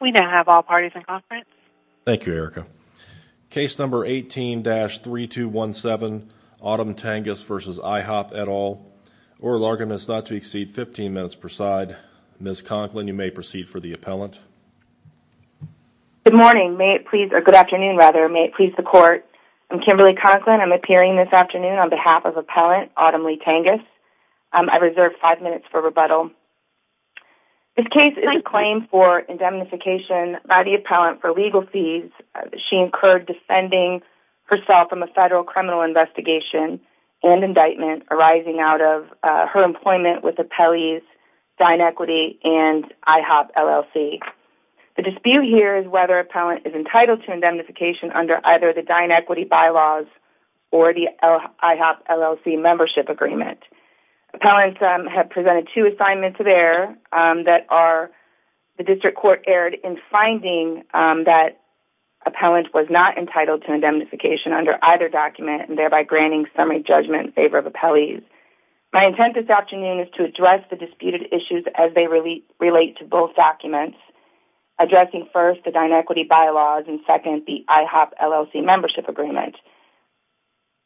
We now have all parties in conference. Thank you, Erica. Case number 18-3217 Autumn Tangas v. IHOP et al. Oral arguments not to exceed 15 minutes per side. Ms. Conklin, you may proceed for the appellant. Good morning, may it please, or good afternoon rather, may it please the court. I'm Kimberly Conklin. I'm appearing this afternoon on behalf of appellant Autumn Lee Tangas. I reserve five minutes for rebuttal. This case is a claim for indemnification by the appellant for legal fees she incurred defending herself from a federal criminal investigation and indictment arising out of her employment with Appellees Dine Equity and IHOP LLC. The dispute here is whether appellant is entitled to indemnification under either the Dine Equity bylaws or the IHOP LLC membership agreement. Appellants have presented two assignments there that are, the district court erred in finding that appellant was not entitled to indemnification under either document and thereby granting summary judgment in favor of appellees. My intent this afternoon is to address the disputed issues as they relate to both documents, addressing first the Dine Equity bylaws and second the IHOP LLC membership agreement.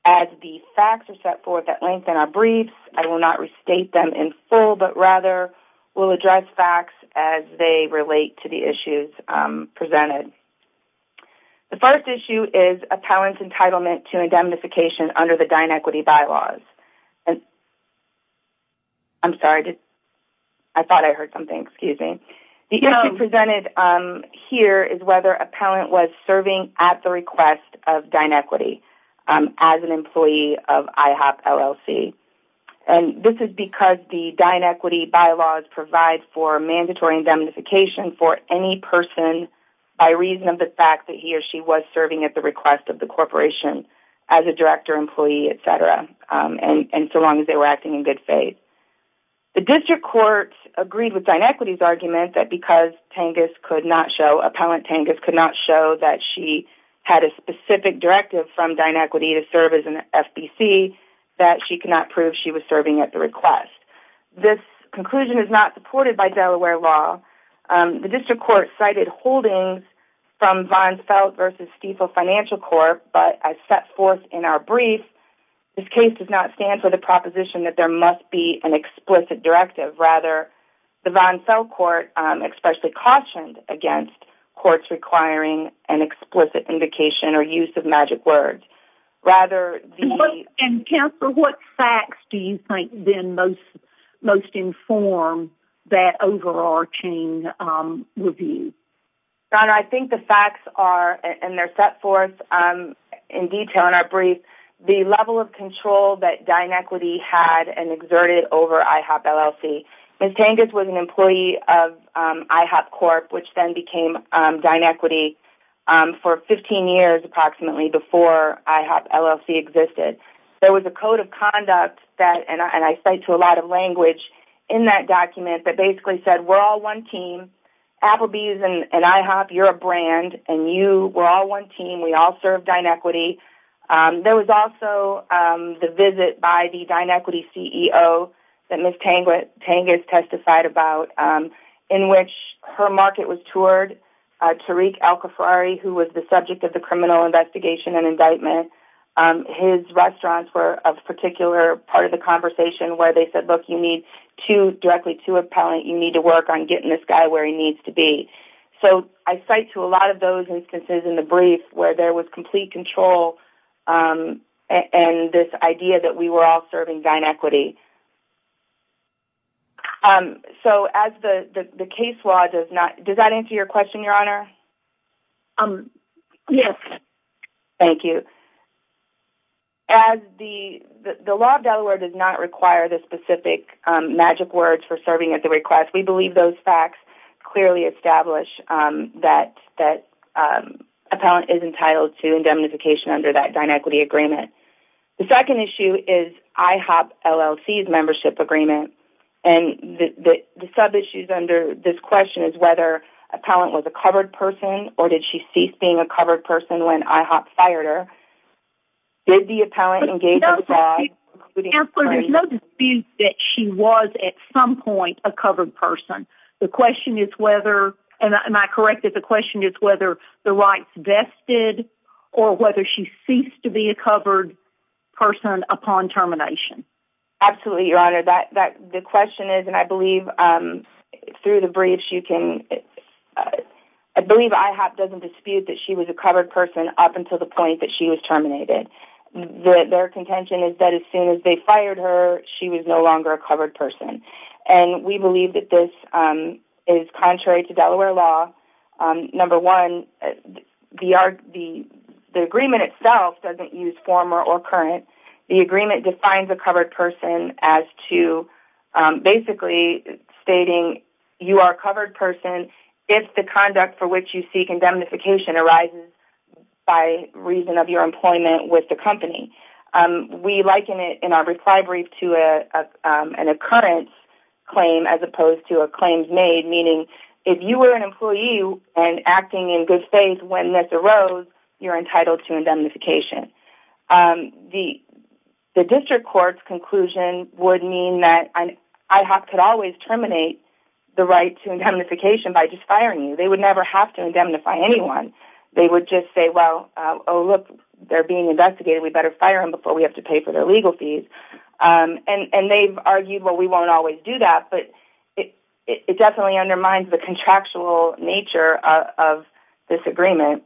As the facts are forth at length in our briefs, I will not restate them in full but rather will address facts as they relate to the issues presented. The first issue is appellant's entitlement to indemnification under the Dine Equity bylaws. I'm sorry, I thought I heard something, excuse me. The issue presented here is whether appellant was serving at the request of Dine Equity as an IHOP LLC and this is because the Dine Equity bylaws provide for mandatory indemnification for any person by reason of the fact that he or she was serving at the request of the corporation as a director, employee, etc. and so long as they were acting in good faith. The district courts agreed with Dine Equity's argument that because Tengas could not show, appellant Tengas could not show that she had a specific directive from Dine Equity to serve as an FBC that she could not prove she was serving at the request. This conclusion is not supported by Delaware law. The district court cited holdings from Von Felt versus Stiefel Financial Corp but as set forth in our brief, this case does not stand for the proposition that there must be an explicit directive. Rather, the Von Felt court especially cautioned against courts requiring an explicit indication or use of magic words. Rather, the... And Kemper, what facts do you think then most inform that overarching review? Your Honor, I think the facts are, and they're set forth in detail in our brief, the level of control that Dine Equity had and Tengas was an employee of IHOP Corp which then became Dine Equity for 15 years approximately before IHOP LLC existed. There was a code of conduct that and I cite to a lot of language in that document that basically said we're all one team. Applebee's and IHOP, you're a brand and you were all one team. We all serve Dine Equity. There was also the visit by the Dine Equity CEO that Ms. Stiefel testified about in which her market was toured. Tariq Al-Khafri, who was the subject of the criminal investigation and indictment, his restaurants were a particular part of the conversation where they said, look, you need to directly to appellant, you need to work on getting this guy where he needs to be. So I cite to a lot of those instances in the brief where there was complete control and this idea that we were all serving Dine Equity. So as the case law does not, does that answer your question Your Honor? Yes. Thank you. As the law of Delaware does not require the specific magic words for serving at the request, we believe those facts clearly establish that that appellant is entitled to indemnification under that Dine Equity agreement. The second issue is IHOP LLC's membership agreement and the sub-issues under this question is whether appellant was a covered person or did she cease being a covered person when IHOP fired her. Did the appellant engage in the bad? There's no dispute that she was at some point a covered person. The question is whether, and am I correct if the question is whether the rights vested or whether she ceased to be a covered person upon termination? Absolutely, Your Honor. The question is, and I believe through the briefs you can, I believe IHOP doesn't dispute that she was a covered person up until the point that she was terminated. Their contention is that as soon as they fired her, she was no longer a covered person and we believe that this is contrary to Delaware law. Number one, the agreement itself doesn't use former or current. The agreement defines a covered person as to basically stating you are a covered person if the conduct for which you seek indemnification arises by reason of your employment with the company. We liken it in our reply brief to an occurrence claim as opposed to a claims made, meaning if you were an employee and acting in good faith when this arose, you're entitled to indemnification. The district court's conclusion would mean that IHOP could always terminate the right to indemnification by just firing you. They would never have to indemnify anyone. They would just say, well, oh look, they're being investigated. We better fire him before we have to pay for their legal fees. And they've argued, well, we won't always do that, but it definitely undermines the contractual nature of this agreement.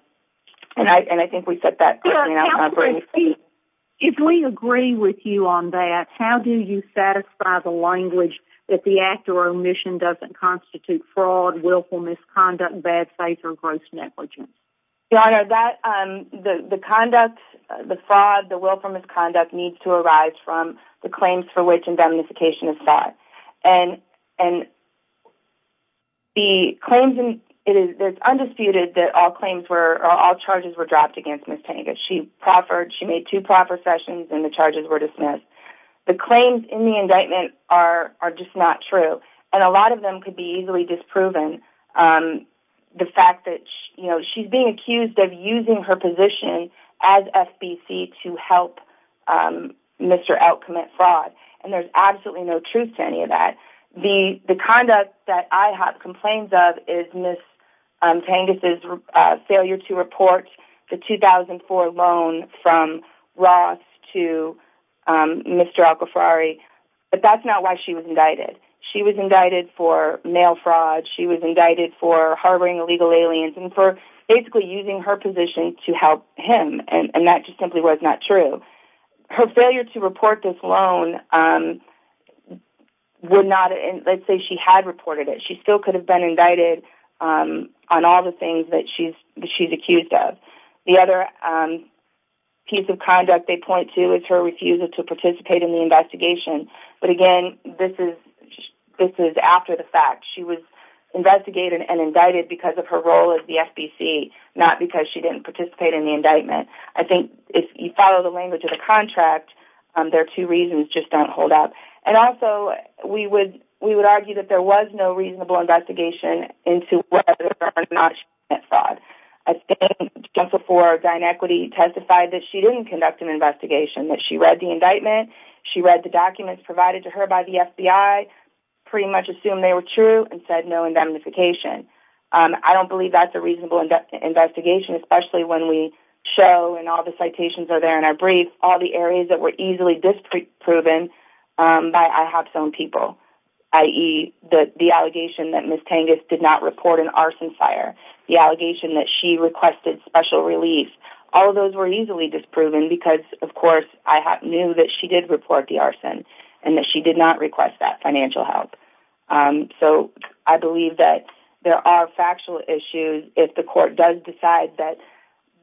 And I think we set that... If we agree with you on that, how do you satisfy the language that the act or omission doesn't constitute fraud, willful misconduct, bad faith, or gross negligence? Your Honor, the conduct, the fraud, the willful misconduct needs to arise from the claims for which indemnification is and the claims... It is undisputed that all charges were dropped against Ms. Tanga. She made two proper sessions and the charges were dismissed. The claims in the indictment are just not true, and a lot of them could be easily disproven. The fact that she's being accused of using her position as FBC to help Mr. Elk commit fraud, and there's absolutely no excuse to any of that. The conduct that I have complaints of is Ms. Tanga's failure to report the 2004 loan from Ross to Mr. Alkafrari, but that's not why she was indicted. She was indicted for mail fraud, she was indicted for harboring illegal aliens, and for basically using her position to help him, and that just simply was not true. Her failure to report this loan would not... Let's say she had reported it, she still could have been indicted on all the things that she's accused of. The other piece of conduct they point to is her refusal to participate in the investigation, but again, this is after the fact. She was investigated and indicted because of her role as the FBC, not because she didn't participate in the indictment. I think if you follow the language of the contract, there are two reasons, just don't hold up. And also, we would argue that there was no reasonable investigation into whether or not she committed fraud. I think Jennifer Ford, Dinequity, testified that she didn't conduct an investigation, that she read the indictment, she read the documents provided to her by the FBI, pretty much assumed they were true, and said no to any kind of amnification. I don't believe that's a reasonable investigation, especially when we show, and all the citations are there in our briefs, all the areas that were easily disproven by IHOP's own people, i.e. the allegation that Miss Tengas did not report an arson fire, the allegation that she requested special relief, all of those were easily disproven because, of course, IHOP knew that she did report the arson, and that she did not request that financial help. So, I believe that there are factual issues. If the court does decide that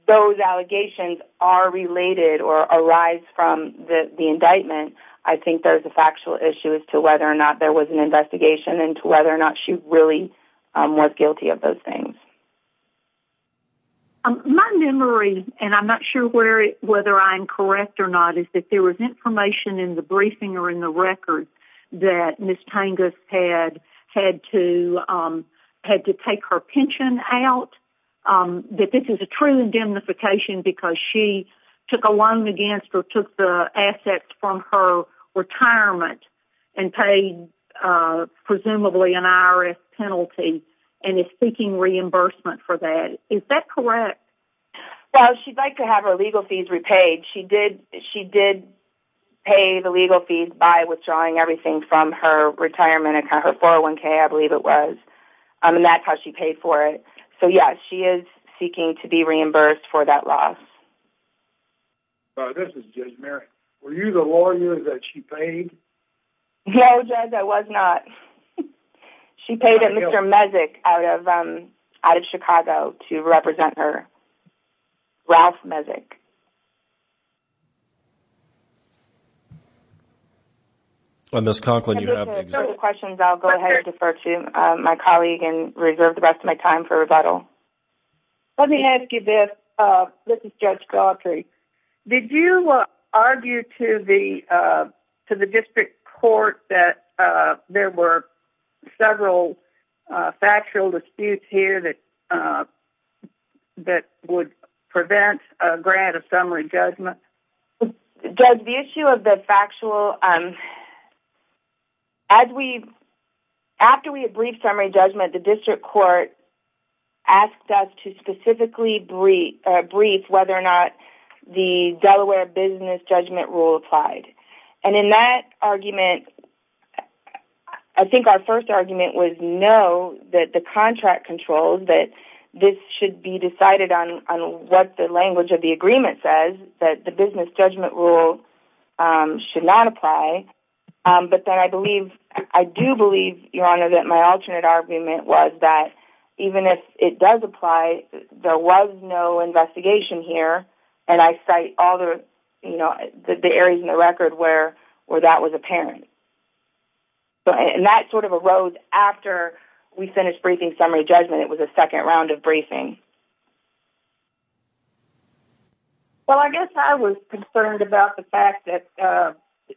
those allegations are related or arise from the indictment, I think there's a factual issue as to whether or not there was an investigation, and to whether or not she really was guilty of those things. My memory, and I'm not sure whether I'm correct or not, is that there was information in the briefing or in the record that Miss Tengas had to take her pension out, that this is a true indemnification because she took a loan against or took the assets from her retirement, and paid presumably an IRS penalty, and is seeking reimbursement for that. Is that correct? Well, she'd like to have her legal fees repaid. She did pay the legal fees by withdrawing everything from her retirement account, her 401k, I believe it was, and that's how she paid for it. So, yeah, she is seeking to be reimbursed for that loss. This is Judge Merrick. Were you the lawyer that she paid? No, Judge, I was not. She paid a Mr. Mezek out of Chicago to represent her. Ralph Mezek. If you have further questions, I'll go ahead and defer to my colleague and reserve the rest of my time for rebuttal. Let me ask you this. This is Judge Galtry. Did you argue to the extent that this would prevent a grant of summary judgment? Judge, the issue of the factual, as we, after we had briefed summary judgment, the district court asked us to specifically brief whether or not the Delaware business judgment rule applied. And in that argument, I think our first argument was no, that the contract controls, that this should be decided on what the language of the agreement says, that the business judgment rule should not apply. But then I believe, I do believe, Your Honor, that my alternate argument was that even if it does apply, there was no investigation here, and I cite all the, you know, the areas in the record where that was apparent. And that sort of arose after we finished briefing summary judgment. It was a second round of briefing. Well, I guess I was concerned about the fact that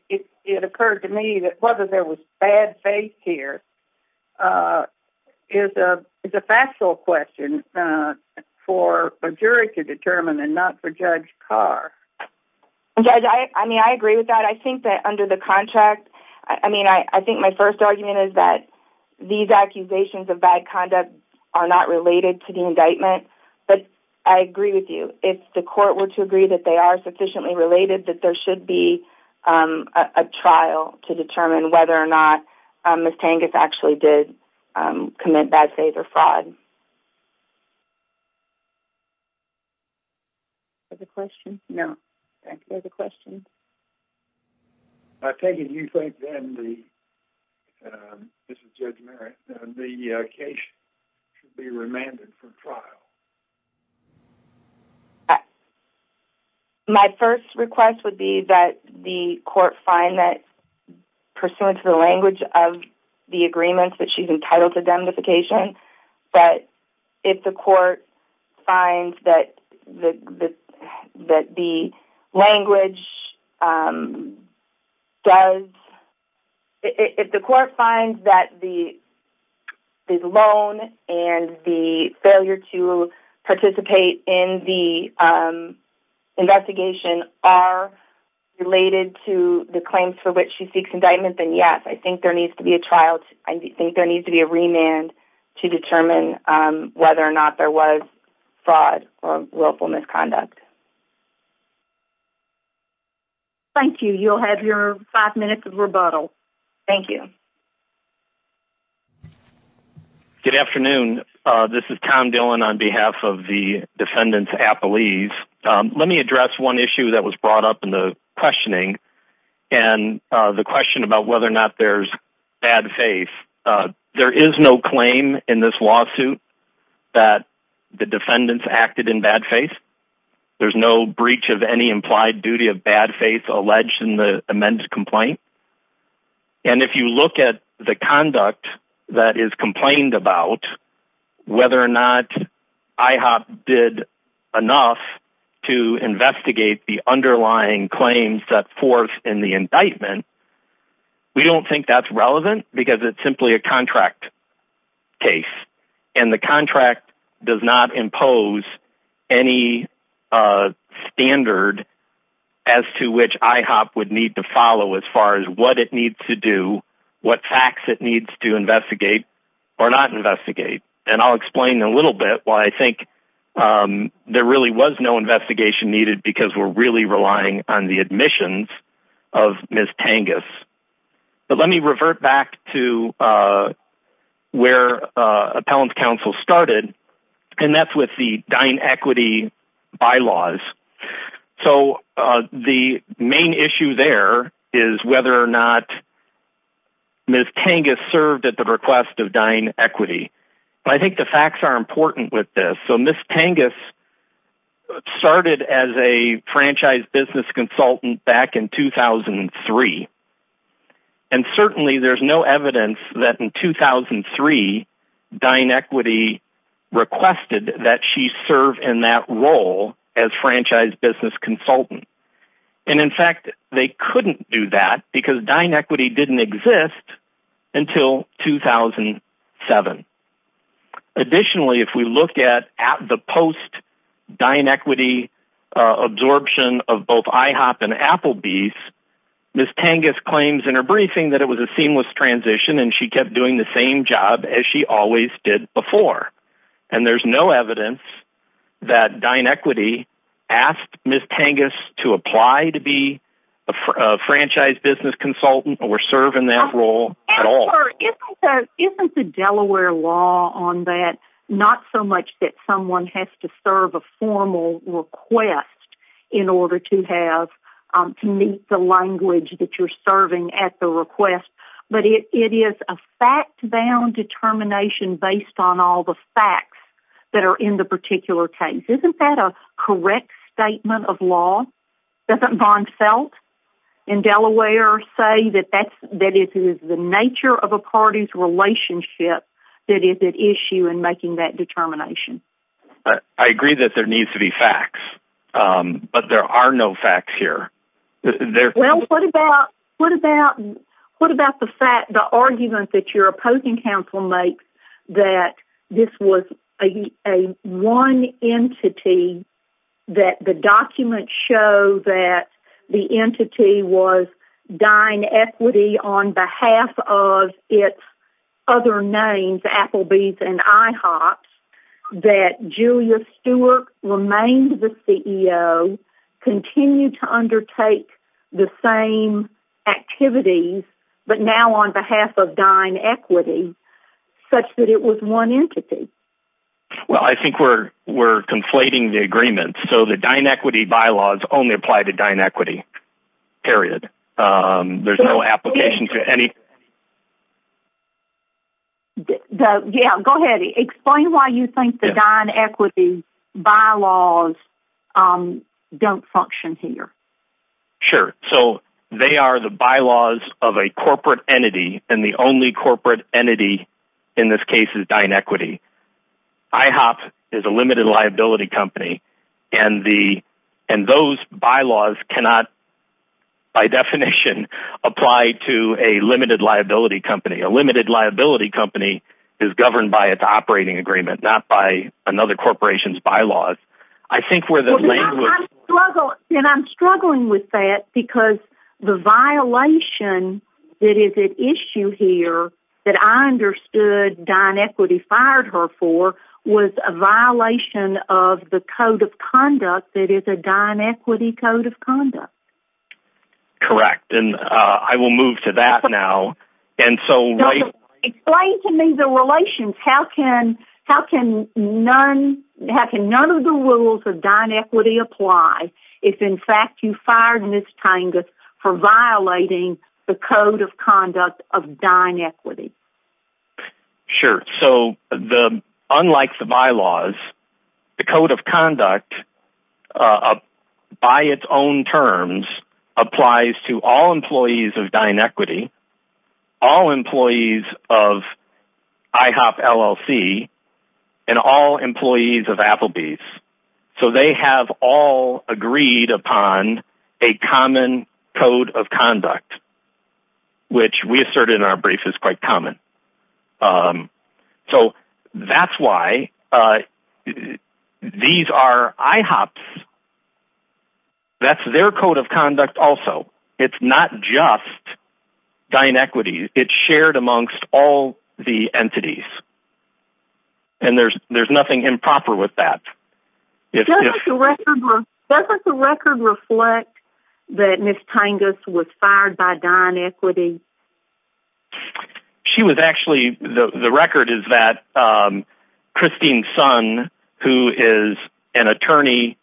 it occurred to me that whether there was bad faith here is a factual question for a jury to determine and not for Judge Carr. Judge, I mean, I agree with that. I think that under the contract, I mean, I think my first argument is that these accusations of bad conduct are not related to the indictment, but I agree with you. If the court were to agree that they are sufficiently related, that there should be a trial to determine whether or not Ms. Tangus actually did commit bad faith or fraud. Is there a question? No. Thank you. There's a question. Ms. Tangus, do you think then the, this is Judge Merritt, the case should be remanded for trial? My first request would be that the court find that, pursuant to the language of the agreements that she's entitled to indemnification, that if the court finds that the language does, if the court finds that the loan and the failure to participate in the investigation are related to the claims for which she is entitled, I think there needs to be a remand to determine whether or not there was fraud or willful misconduct. Thank you. You'll have your five minutes of rebuttal. Thank you. Good afternoon. This is Tom Dillon on behalf of the defendants at Appalese. Let me address one issue that was brought up in the case. There is no claim in this lawsuit that the defendants acted in bad faith. There's no breach of any implied duty of bad faith alleged in the amends complaint. And if you look at the conduct that is complained about, whether or not IHOP did enough to investigate the underlying claims that forced in the indictment, we don't think that's relevant because it's simply a contract case and the contract does not impose any standard as to which IHOP would need to follow as far as what it needs to do, what facts it needs to investigate or not investigate. And I'll explain a little bit why I think there really was no investigation needed because we're really relying on the admissions of Ms. Tangus. But let me revert back to where Appellant Counsel started and that's with the Dine Equity bylaws. So the main issue there is whether or not Ms. Tangus served at the request of Dine Equity. I think the facts are important with this. So Ms. Tangus started as a franchise business consultant back in 2003 and certainly there's no evidence that in 2003 Dine Equity requested that she serve in that role as franchise business consultant. And in fact they couldn't do that because Dine Equity didn't exist until 2007. Additionally if we look at the post Dine Equity absorption of both IHOP and Applebee's, Ms. Tangus claims in her briefing that it was a seamless transition and she kept doing the same job as she always did before. And there's no evidence that Dine Equity asked Ms. Tangus to apply to be a franchise business consultant or serve in that role at all. Isn't the Delaware law on that not so much that someone has to serve a formal request in order to have to meet the language that you're serving at the request but it is a fact-bound determination based on all the facts that are in the particular case. Isn't that a correct statement of law? Doesn't Von that it is the nature of a party's relationship that is at issue in making that determination. I agree that there needs to be facts but there are no facts here. Well what about what about what about the fact the argument that your opposing counsel makes that this was a one entity that the documents show that the entity was Dine Equity on behalf of its other names Applebee's and IHOP's that Julia Stewart remained the CEO continued to undertake the same activities but now on behalf of Dine Equity such that it was one entity. Well I think we're we're conflating the agreement so the Dine Equity bylaws only apply to Dine Equity period. There's no application to any. Yeah go ahead explain why you think the Dine Equity bylaws don't function here. Sure so they are the bylaws of a corporate entity and the only corporate entity in this case is Dine Equity. IHOP is a limited liability company and the and those bylaws cannot by definition apply to a limited liability company. A limited liability company is governed by its operating agreement not by another corporation's bylaws. I think we're the language. And I'm struggling with that because the was a violation of the Code of Conduct that is a Dine Equity Code of Conduct. Correct and I will move to that now and so. Explain to me the relations how can how can none how can none of the rules of Dine Equity apply if in fact you fired for violating the Code of Conduct of Dine Equity. Sure so the unlike the bylaws the Code of Conduct by its own terms applies to all employees of Dine Equity all employees of IHOP LLC and all employees of Applebee's. So they have all agreed upon a common Code of Conduct which we asserted in our brief is quite common. So that's why these are IHOP's. That's their Code of Conduct also. It's not just Dine Equity. It's shared amongst all the entities and there's nothing improper with that. Doesn't the record reflect that Miss Tangus was fired by Dine Equity? She was actually the record is that Christine's son who is an attorney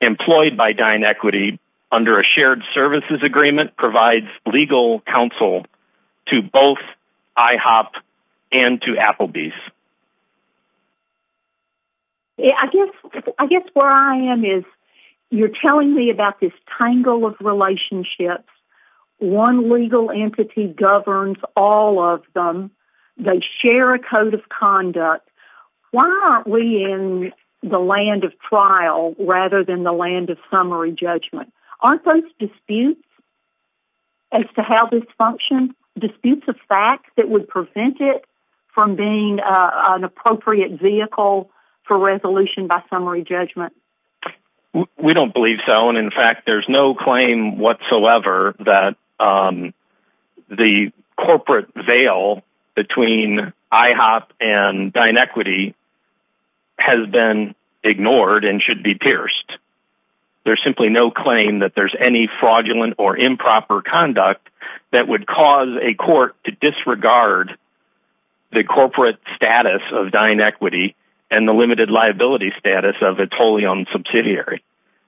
employed by Dine Equity under a shared services agreement provides legal counsel to both IHOP and to Applebee's. I guess where I am is you're telling me about this tangle of relationships. One legal entity governs all of them. They share a Code of Conduct. Why aren't we in the land of trial rather than the land of summary judgment? Aren't those disputes as to how this functions? Disputes of fact that would prevent it from being an appropriate vehicle for resolution by summary judgment? We don't believe so and in fact there's no claim whatsoever that the corporate veil between IHOP and Dine Equity should be pierced. There's simply no claim that there's any fraudulent or improper conduct that would cause a court to disregard the corporate status of Dine Equity and the limited liability status of a totally owned subsidiary.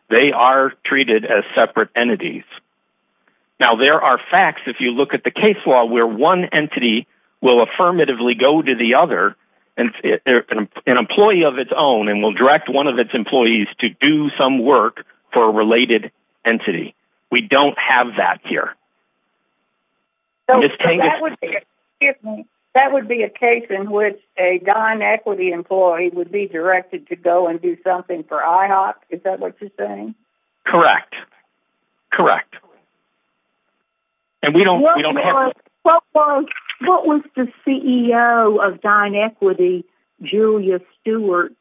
They are treated as separate entities. Now there are facts if you look at the case law where one entity will affirmatively go to the other and an employee of its own and will direct one of its employees to do some work for a related entity. We don't have that here. That would be a case in which a Dine Equity employee would be directed to go and do something for IHOP? Is that what Ms. Stewart's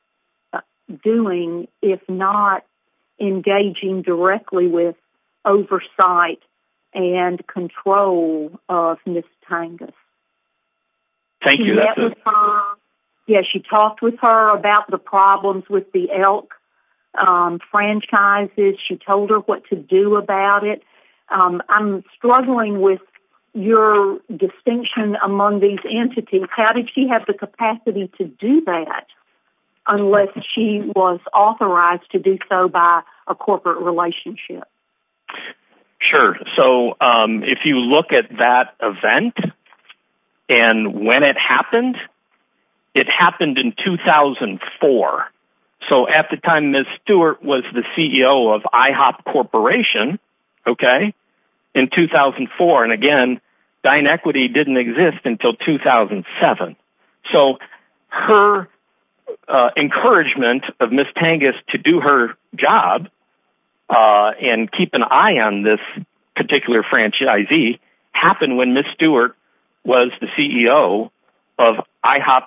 doing if not engaging directly with oversight and control of Ms. Tangus? Thank you. Yeah she talked with her about the problems with the elk franchises. She told her what to do about it. I'm struggling with your distinction among these entities. How did she have the capacity to do that unless she was authorized to do so by a corporate relationship? Sure. So if you look at that event and when it happened, it happened in 2004. So at the time Ms. Stewart was the CEO of IHOP Corporation in 2004 and again Dine Equity didn't exist until 2007. So her encouragement of Ms. Tangus to do her job and keep an eye on this particular franchisee happened when Ms. Stewart was the CEO of IHOP.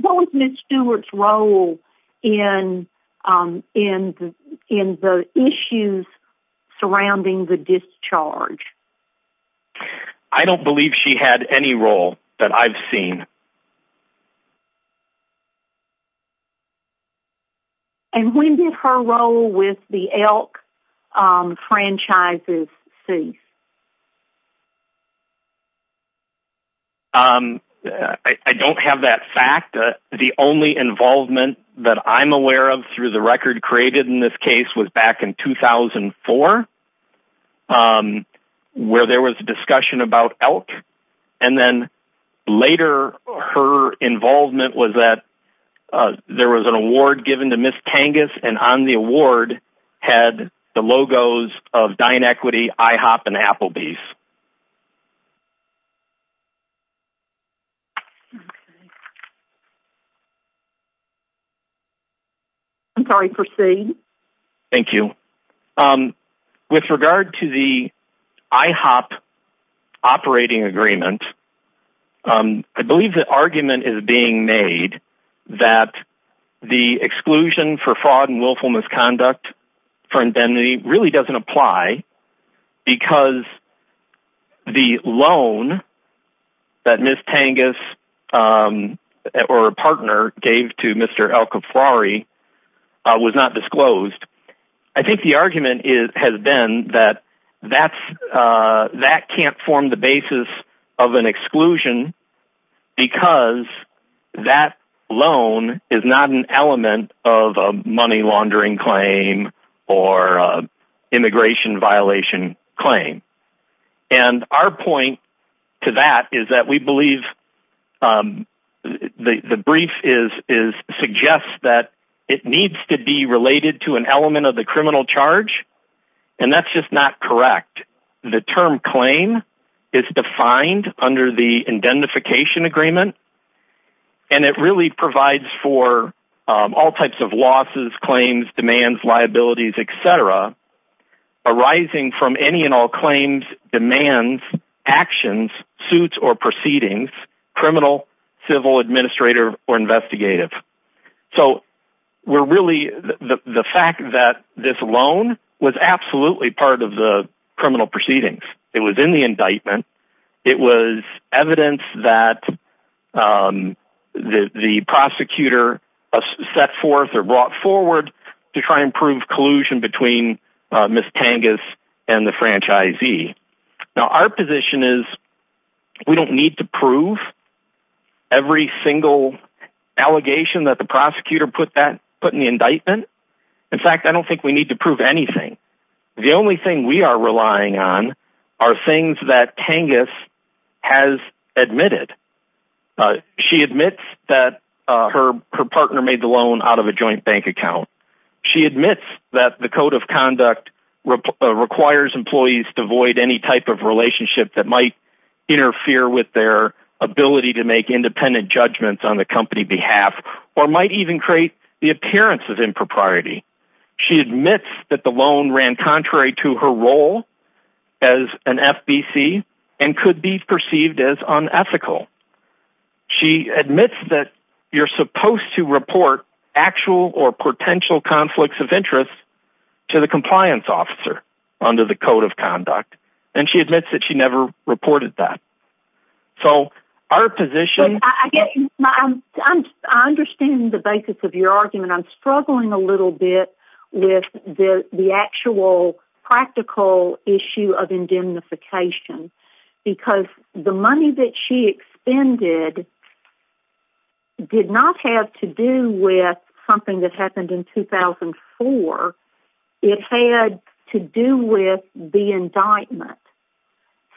What was Ms. Stewart's role in the issues surrounding the discharge? I don't believe she had any role that I've seen. And when did her role with the elk franchises cease? I don't have that fact. The only involvement that I'm aware of through the record created in this case was back in 2004 where there was a discussion about elk and then later her involvement was that there was an award given to Ms. Tangus and on the award had the logos of Dine Equity, IHOP and Applebee's. I'm sorry proceed. Thank you. With regard to the IHOP operating agreement, I believe the argument is being made that the exclusion for fraud and willful misconduct for indemnity really doesn't apply because the loan that Ms. Tangus or a partner gave to Mr. El Caprari was not disclosed. I think the argument has been that that can't form the basis of an exclusion because that loan is not an element of a money laundering claim or immigration violation claim. And our point to that is that we believe the brief is suggests that it needs to be related to an element of the criminal charge and that's just not correct. The term claim is defined under the indentification agreement and it really provides for all types of losses, claims, demands, liabilities, etc. arising from any and all claims, demands, actions, suits or proceedings, criminal, civil, administrative or investigative. So we're really the fact that this loan was absolutely part of the criminal proceedings. It was in the indictment. It was evidence that the prosecutor set forth or brought forward to try and prove collusion between Ms. Tangus and the We don't need to prove every single allegation that the prosecutor put in the indictment. In fact, I don't think we need to prove anything. The only thing we are relying on are things that Tangus has admitted. She admits that her partner made the loan out of a joint bank account. She admits that the code of judgements on the company behalf or might even create the appearance of impropriety. She admits that the loan ran contrary to her role as an FBC and could be perceived as unethical. She admits that you're supposed to report actual or potential conflicts of interest to the compliance officer under the code of conduct. And she admits that she never reported that. So our position... I understand the basis of your argument. I'm struggling a little bit with the actual practical issue of indemnification because the money that she expended did not have to do with something that happened in 2004. It had to do with the indictment.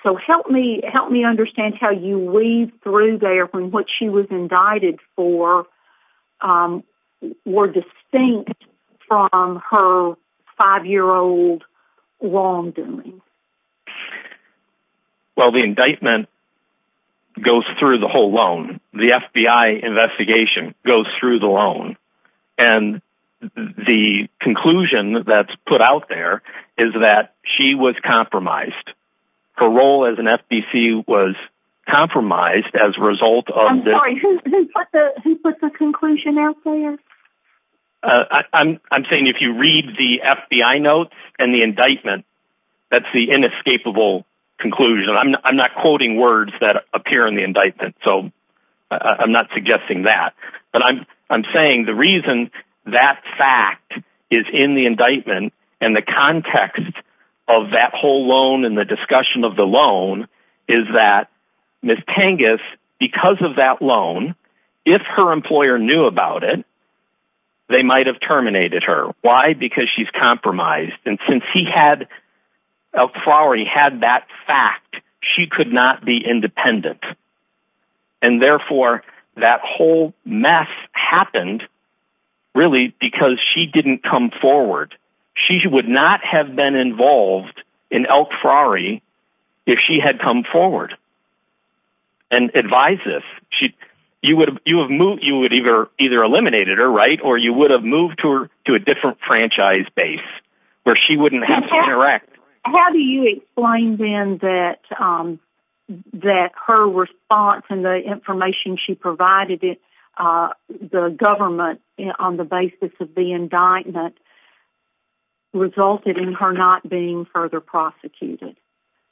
So help me understand how you weave through there when what she was indicted for were distinct from her five-year-old wrongdoing. Well, the indictment goes through the whole loan. The FBI put out there is that she was compromised. Her role as an FBC was compromised as a result of... I'm sorry, who put the conclusion out there? I'm saying if you read the FBI notes and the indictment, that's the inescapable conclusion. I'm not quoting words that appear in the indictment. So I'm not and the context of that whole loan and the discussion of the loan is that Ms. Tangus, because of that loan, if her employer knew about it, they might have terminated her. Why? Because she's compromised. And since he had... Elk Flowery had that fact, she could not be independent. And therefore, that whole mess happened, really, because she didn't come forward. She would not have been involved in Elk Flowery if she had come forward and advised us. You would have either eliminated her, right, or you would have moved to a different franchise base where she wouldn't have to interact. How do you explain, then, that her response and the information she provided the government on the basis of the indictment resulted in her not being further prosecuted,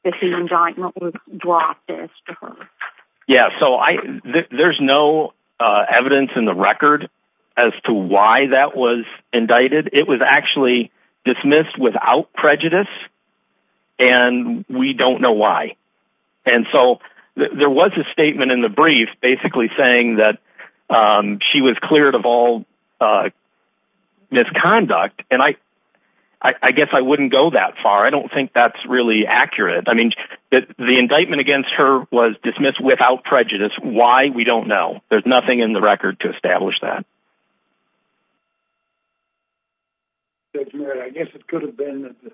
that the indictment was dropped as to her? Yeah, so there's no evidence in the record as to why that was indicted. It was actually dismissed without prejudice, and we don't know why. And so there was a statement in the brief basically saying that she was cleared of all misconduct, and I guess I wouldn't go that far. I don't think that's really accurate. I mean, the indictment against her was dismissed without prejudice. Why? We don't know. There's nothing in the record to establish that. Judge Merritt, I guess it could have been that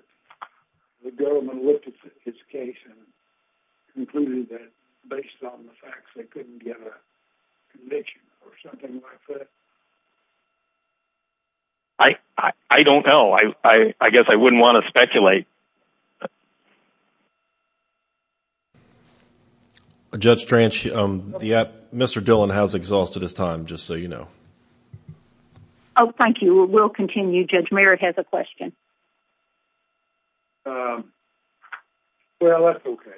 the government looked at his case and concluded that, based on the facts, they couldn't get a conviction or something like that. I don't know. I guess I wouldn't want to speculate. Judge Trench, Mr. Dillon has exhausted his time, just so you know. Oh, thank you. We'll continue. Judge Merritt has a question. Well, that's okay.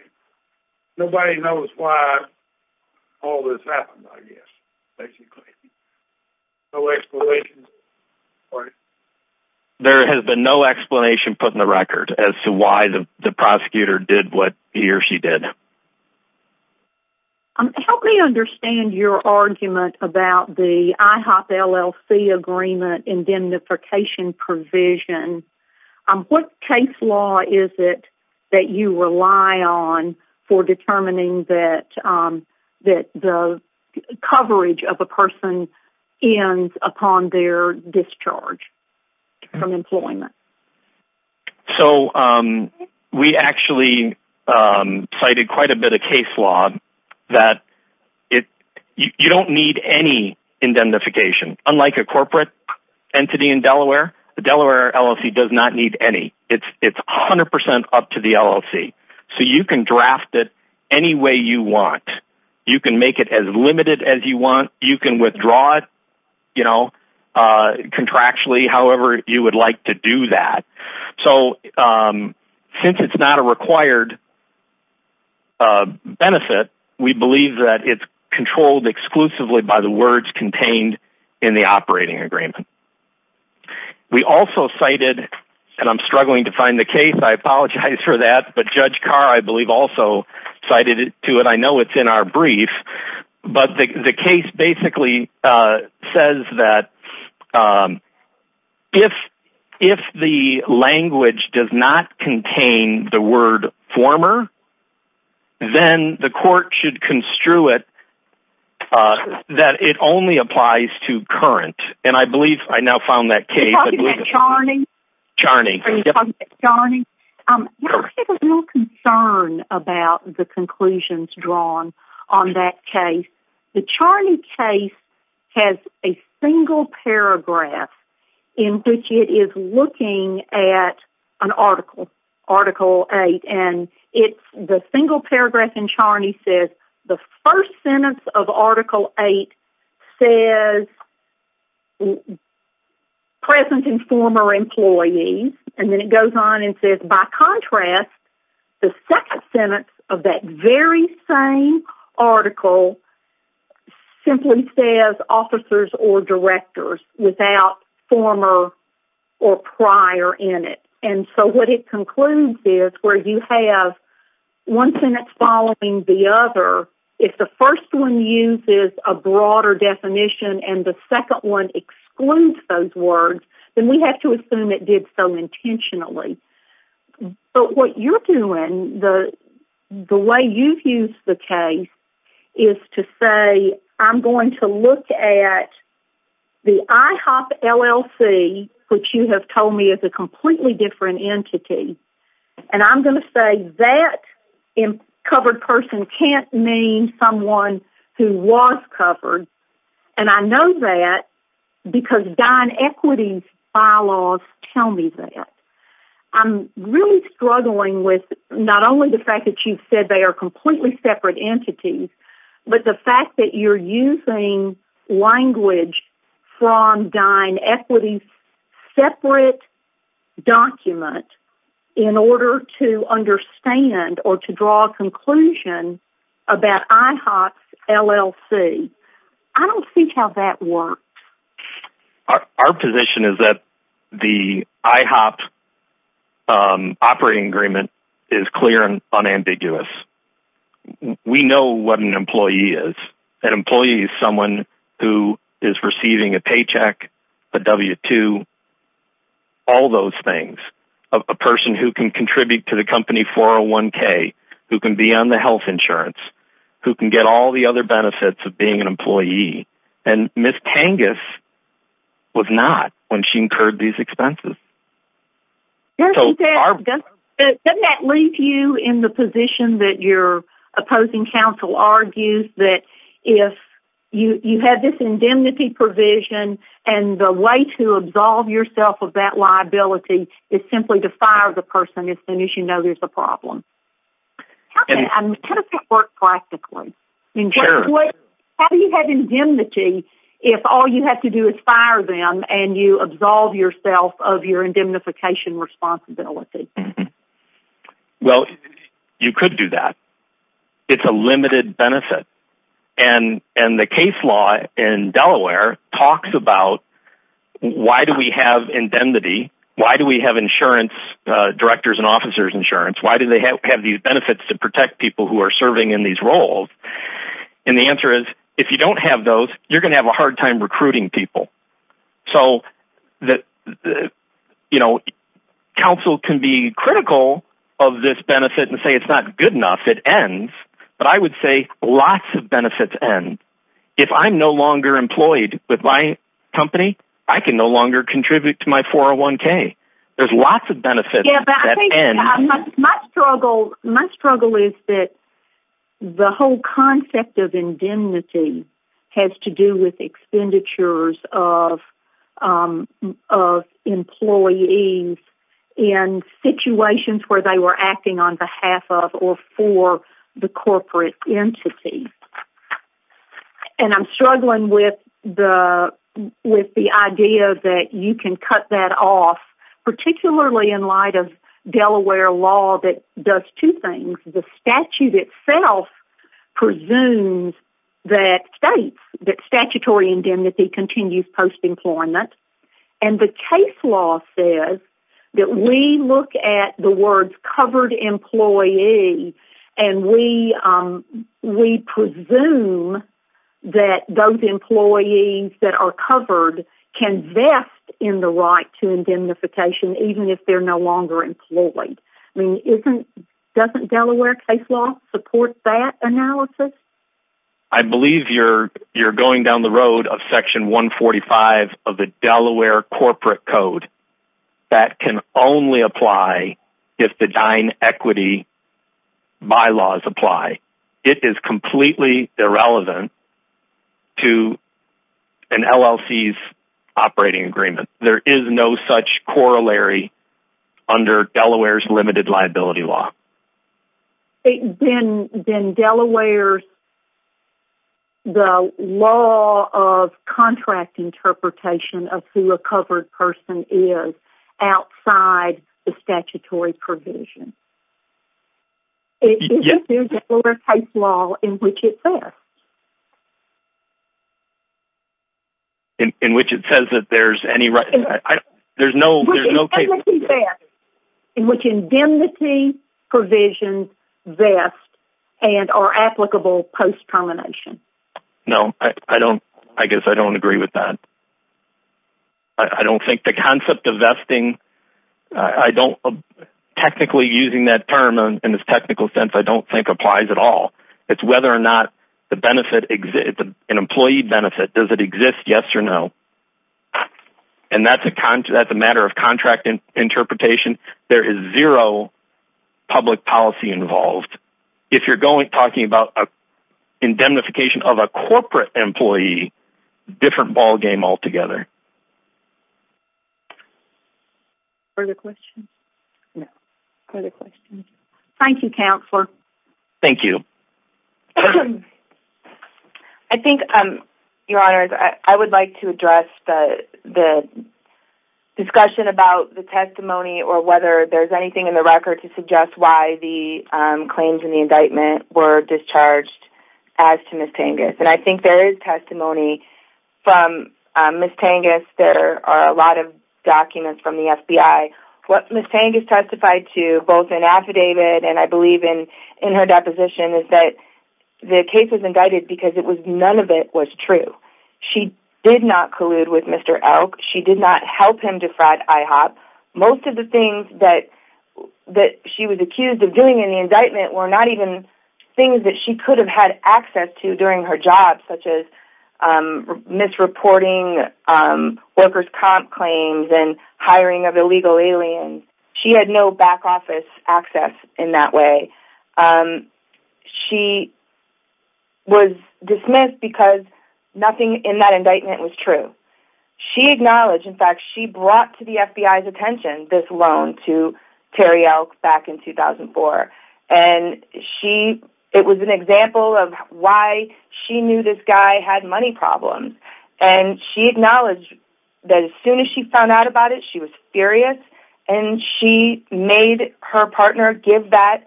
Nobody knows why all this happened, I guess, basically. No explanation? There has been no explanation put in the record as to why the prosecutor did what he or she did. Help me understand your argument about the IHOP LLC agreement indemnification provision. What case law is it that you rely on for your discharge from employment? So, we actually cited quite a bit of case law that you don't need any indemnification. Unlike a corporate entity in Delaware, the Delaware LLC does not need any. It's 100% up to the LLC. So you can draft it any way you want. You can make it as limited as you want. You can withdraw it contractually, however you would like to do that. So, since it's not a required benefit, we believe that it's controlled exclusively by the words contained in the operating agreement. We also cited, and I'm struggling to find the case, I apologize for that, but the case basically says that if the language does not contain the word former, then the court should construe it that it only applies to current. And I believe I now found that case. Are you talking about Charney? Charney. Are you talking about Charney? I have a real concern about the conclusions drawn on that case. The Charney case has a single paragraph in which it is looking at an article, Article 8, and the single paragraph in Charney says, the first sentence of Article 8 says, and then it goes on and says, the second sentence of that very same article simply says officers or directors without former or prior in it. And so what it concludes is where you have one sentence following the other, if the first one uses a broader definition and the second one excludes those words, then we have to assume it did so intentionally. But what you're doing, the way you've used the case, is to say I'm going to look at the IHOP LLC, which you have told me is a completely different entity, and I'm going to say that covered person can't mean someone who was covered, and I know that because Don Equity's bylaws tell me that. I'm really struggling with not only the fact that you've said they are completely separate entities, but the fact that you're using language from Don Equity's separate document in order to understand or to draw a conclusion about IHOP's LLC. I don't see how that works. Our position is that the IHOP operating agreement is clear and unambiguous. We know what an employee is. An employee is someone who is receiving a paycheck, a W-2, all those things. A person who can contribute to the company 401k, who can be on the health insurance, and Ms. Tangus was not when she incurred these expenses. Doesn't that leave you in the position that your opposing counsel argues that if you have this indemnity provision and the way to absolve yourself of that liability is simply to fire the person as soon as you know there's a problem? How does that work practically? How do you have indemnity if all you have to do is fire them and you absolve yourself of your indemnification responsibility? Well, you could do that. It's a limited benefit. And the case law in Delaware talks about why do we have indemnity, why do we have insurance, directors and officers insurance, why do they have these benefits to protect people who are serving in these roles? And the answer is if you don't have those, you're going to have a hard time recruiting people. So, you know, counsel can be critical of this benefit and say it's not good enough, it ends. But I would say lots of benefits end. If I'm no longer employed with my company, I can no longer contribute to my 401k. There's lots of benefits that end. My struggle is that the whole concept of indemnity has to do with expenditures of employees in situations where they were acting on behalf of or for the corporate entity. And I'm struggling with the idea that you can cut that off, particularly in light of Delaware law that does two things. The statute itself presumes that states that statutory indemnity continues post-employment. And the case law says that we look at the words covered employee and we presume that those employees that are covered can invest in the right to indemnification, even if they're no longer employed. Doesn't Delaware case law support that analysis? I believe you're going down the road of section 145 of the Delaware corporate code. That can only apply if the Dine Equity Bylaws apply. It is completely irrelevant to an LLC's operating agreement. There is no such corollary under Delaware's limited liability law. Then Delaware's, the law of contract interpretation of who a covered person is outside the statutory provision. Isn't there Delaware case law in which it says? In which it says that there's any right... There's no case law... In which indemnity provisions vest and are applicable post-termination. No, I guess I don't agree with that. I don't think the concept of vesting... I don't... Technically using that term in its technical sense, I don't think applies at all. It's whether or not an employee benefit, does it exist, yes or no? And that's a matter of contract interpretation. There is zero public policy involved. If you're talking about indemnification of a corporate employee, different ballgame altogether. Further questions? No. Further questions? Thank you, Counselor. Thank you. I think, Your Honors, I would like to address the discussion about the testimony or whether there's anything in the record to suggest why the claims in the indictment were discharged as to Ms. Tengas. And I think there is testimony from Ms. Tengas. There are a lot of documents from the FBI. What Ms. Tengas testified to, both in affidavit and I believe in her deposition, is that the case was indicted because none of it was true. She did not collude with Mr. Elk. She did not help him defraud IHOP. Most of the things that she was accused of doing in the indictment were not even things that she could have had access to during her job, such as misreporting workers' comp claims and hiring of illegal aliens. She had no back office access in that way. She was dismissed because nothing in that indictment was true. She acknowledged, in fact, she brought to the FBI's attention this loan to Terry Elk back in 2004, and it was an example of why she knew this guy had money problems. And she acknowledged that as soon as she found out about it, she was furious, and she made her partner get that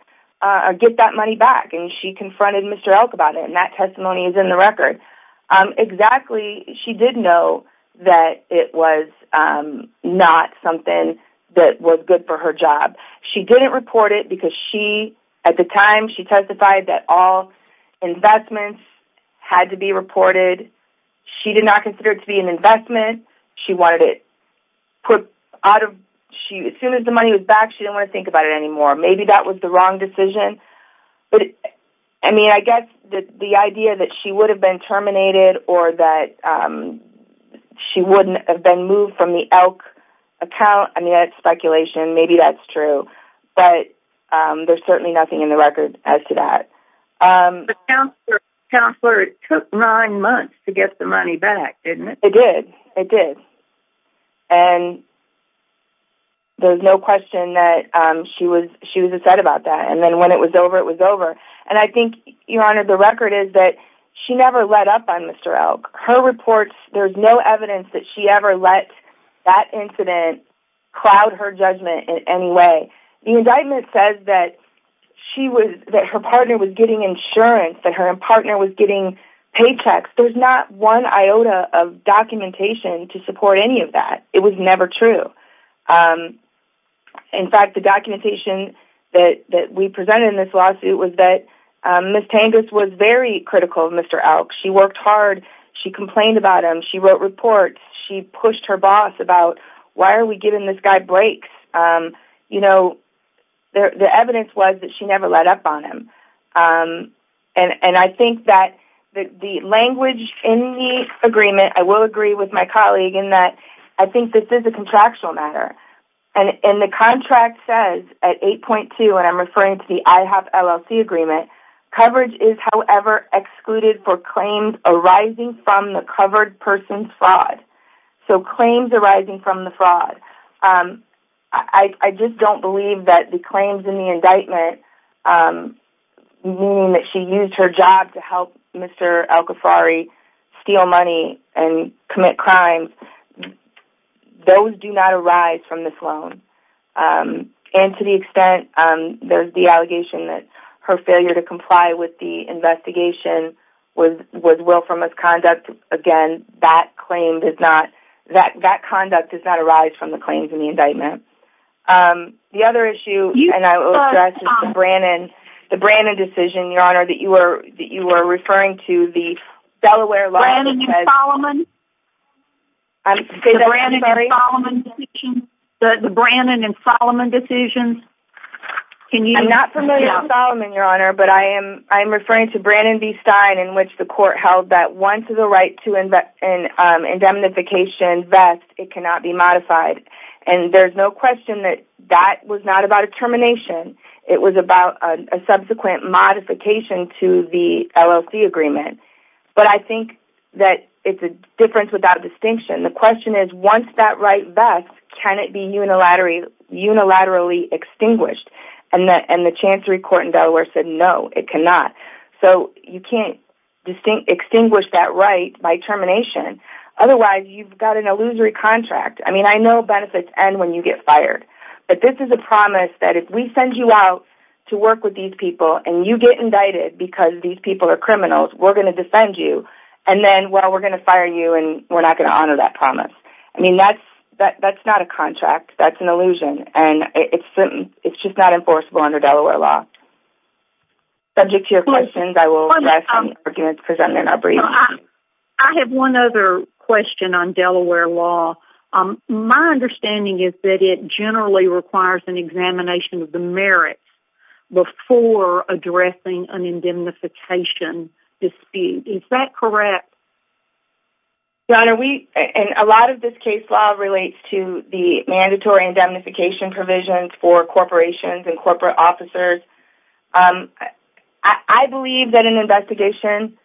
money back, and she confronted Mr. Elk about it. And that testimony is in the record. Exactly, she did know that it was not something that was good for her job. She didn't report it because she, at the time, she testified that all investments had to be reported. She did not consider it to be an investment. She wanted it put out of, as soon as the money was back, she didn't want to think about it anymore. Maybe that was the wrong decision. But, I mean, I guess the idea that she would have been terminated or that she wouldn't have been moved from the Elk account, I mean, that's speculation. Maybe that's true. But there's certainly nothing in the record as to that. The counselor took nine months to get the money back, didn't it? It did. It did. And there's no question that she was upset about that. And then when it was over, it was over. And I think, Your Honor, the record is that she never let up on Mr. Elk. Her reports, there's no evidence that she ever let that incident cloud her judgment in any way. The indictment says that her partner was getting insurance, that her partner was getting paychecks. There's not one iota of documentation to support any of that. It was never true. In fact, the documentation that we presented in this lawsuit was that Ms. Tangus was very critical of Mr. Elk. She worked hard. She complained about him. She wrote reports. She pushed her boss about, why are we giving this guy breaks? You know, the evidence was that she never let up on him. And I think that the language in the agreement, I will agree with my colleague, in that I think this is a contractual matter. And the contract says at 8.2, and I'm referring to the IHOP LLC agreement, coverage is, however, excluded for claims arising from the covered person's fraud. So claims arising from the fraud. I just don't believe that the claims in the indictment, meaning that she used her job to help Mr. Elkafari steal money and commit crimes, those do not arise from this loan. And to the extent there's the allegation that her failure to comply with the investigation was willful misconduct, again, that claim does not, that conduct does not arise from the claims in the indictment. The other issue, and I will address, is the Brannon decision, Your Honor, that you were referring to the Delaware law. Brannon and Solomon? I'm sorry? The Brannon and Solomon decision. I'm not familiar with Solomon, Your Honor, but I am referring to Brannon v. Stein in which the court held that once the right to indemnification vests, it cannot be modified. And there's no question that that was not about a termination. It was about a subsequent modification to the LLC agreement. But I think that it's a difference without distinction. The question is, once that right vests, can it be unilaterally extinguished? And the Chancery Court in Delaware said no, it cannot. So you can't extinguish that right by termination. Otherwise, you've got an illusory contract. I mean, I know benefits end when you get fired, but this is a promise that if we send you out to work with these people and you get indicted because these people are criminals, we're going to defend you, and then, well, we're going to fire you and we're not going to honor that promise. I mean, that's not a contract. That's an illusion, and it's just not enforceable under Delaware law. Subject to your questions, I will address some arguments presented in our briefing. I have one other question on Delaware law. My understanding is that it generally requires an examination of the merits before addressing an indemnification dispute. Is that correct? Your Honor, a lot of this case law relates to the mandatory indemnification provisions for corporations and corporate officers. I believe that in an investigation,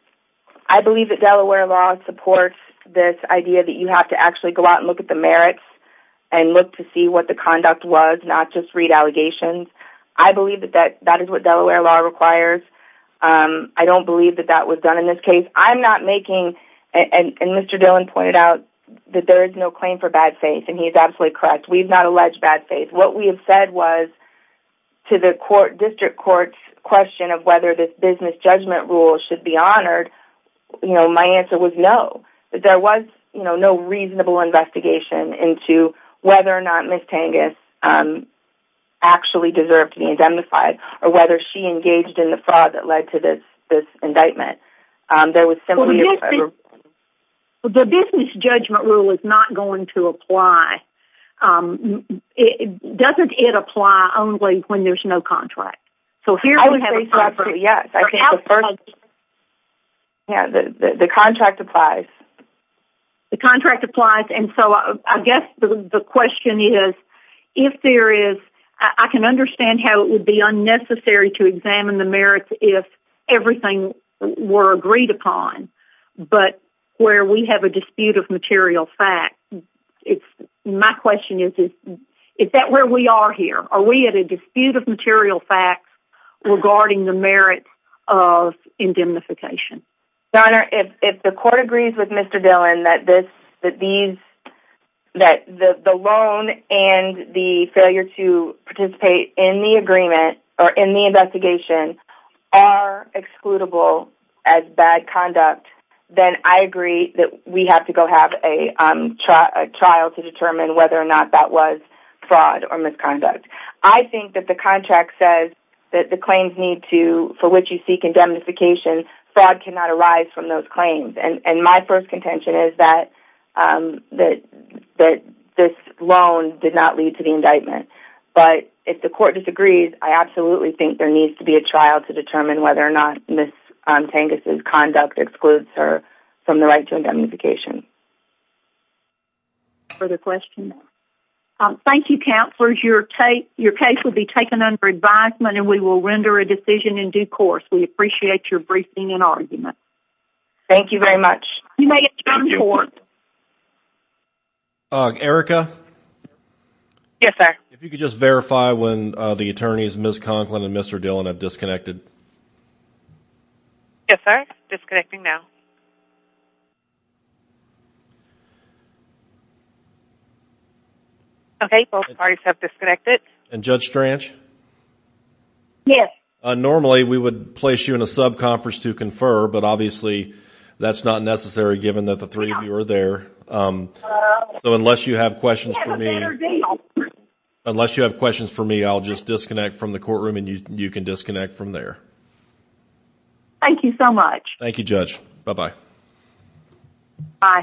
I believe that Delaware law supports this idea that you have to actually go out and look at the merits and look to see what the conduct was, not just read allegations. I believe that that is what Delaware law requires. I don't believe that that was done in this case. I'm not making, and Mr. Dillon pointed out, that there is no claim for bad faith, and he is absolutely correct. We have not alleged bad faith. What we have said was, to the district court's question of whether this business judgment rule should be honored, my answer was no. There was no reasonable investigation into whether or not Ms. Tangus actually deserved to be indemnified or whether she engaged in the fraud that led to this indictment. There was similarly... The business judgment rule is not going to apply. Doesn't it apply only when there's no contract? I would say so, absolutely, yes. The contract applies. The contract applies, and so I guess the question is, if there is... I can understand how it would be unnecessary to examine the merits if everything were agreed upon, but where we have a dispute of material facts, my question is, is that where we are here? Are we at a dispute of material facts regarding the merit of indemnification? Your Honor, if the court agrees with Mr. Dillon that the loan and the failure to participate in the agreement or in the investigation are excludable as bad conduct, then I agree that we have to go have a trial to determine whether or not that was fraud or misconduct. I think that the contract says that the claims need to... for which you seek indemnification, fraud cannot arise from those claims, and my first contention is that this loan did not lead to the indictment. But if the court disagrees, I absolutely think there needs to be a trial to determine whether or not Ms. Tangus' conduct excludes her from the right to indemnification. Further questions? Thank you, Counselors. Your case will be taken under advisement, and we will render a decision in due course. We appreciate your briefing and argument. Thank you very much. You may adjourn the Court. Erica? Yes, sir. If you could just verify when the attorneys, Ms. Conklin and Mr. Dillon, have disconnected. Yes, sir. Disconnecting now. Okay, both parties have disconnected. And Judge Stranch? Yes. Normally we would place you in a sub-conference to confer, but obviously that's not necessary given that the three of you are there. So unless you have questions for me... Unless you have questions for me, I'll just disconnect from the courtroom, and you can disconnect from there. Thank you so much. Thank you, Judge. Bye-bye. Bye.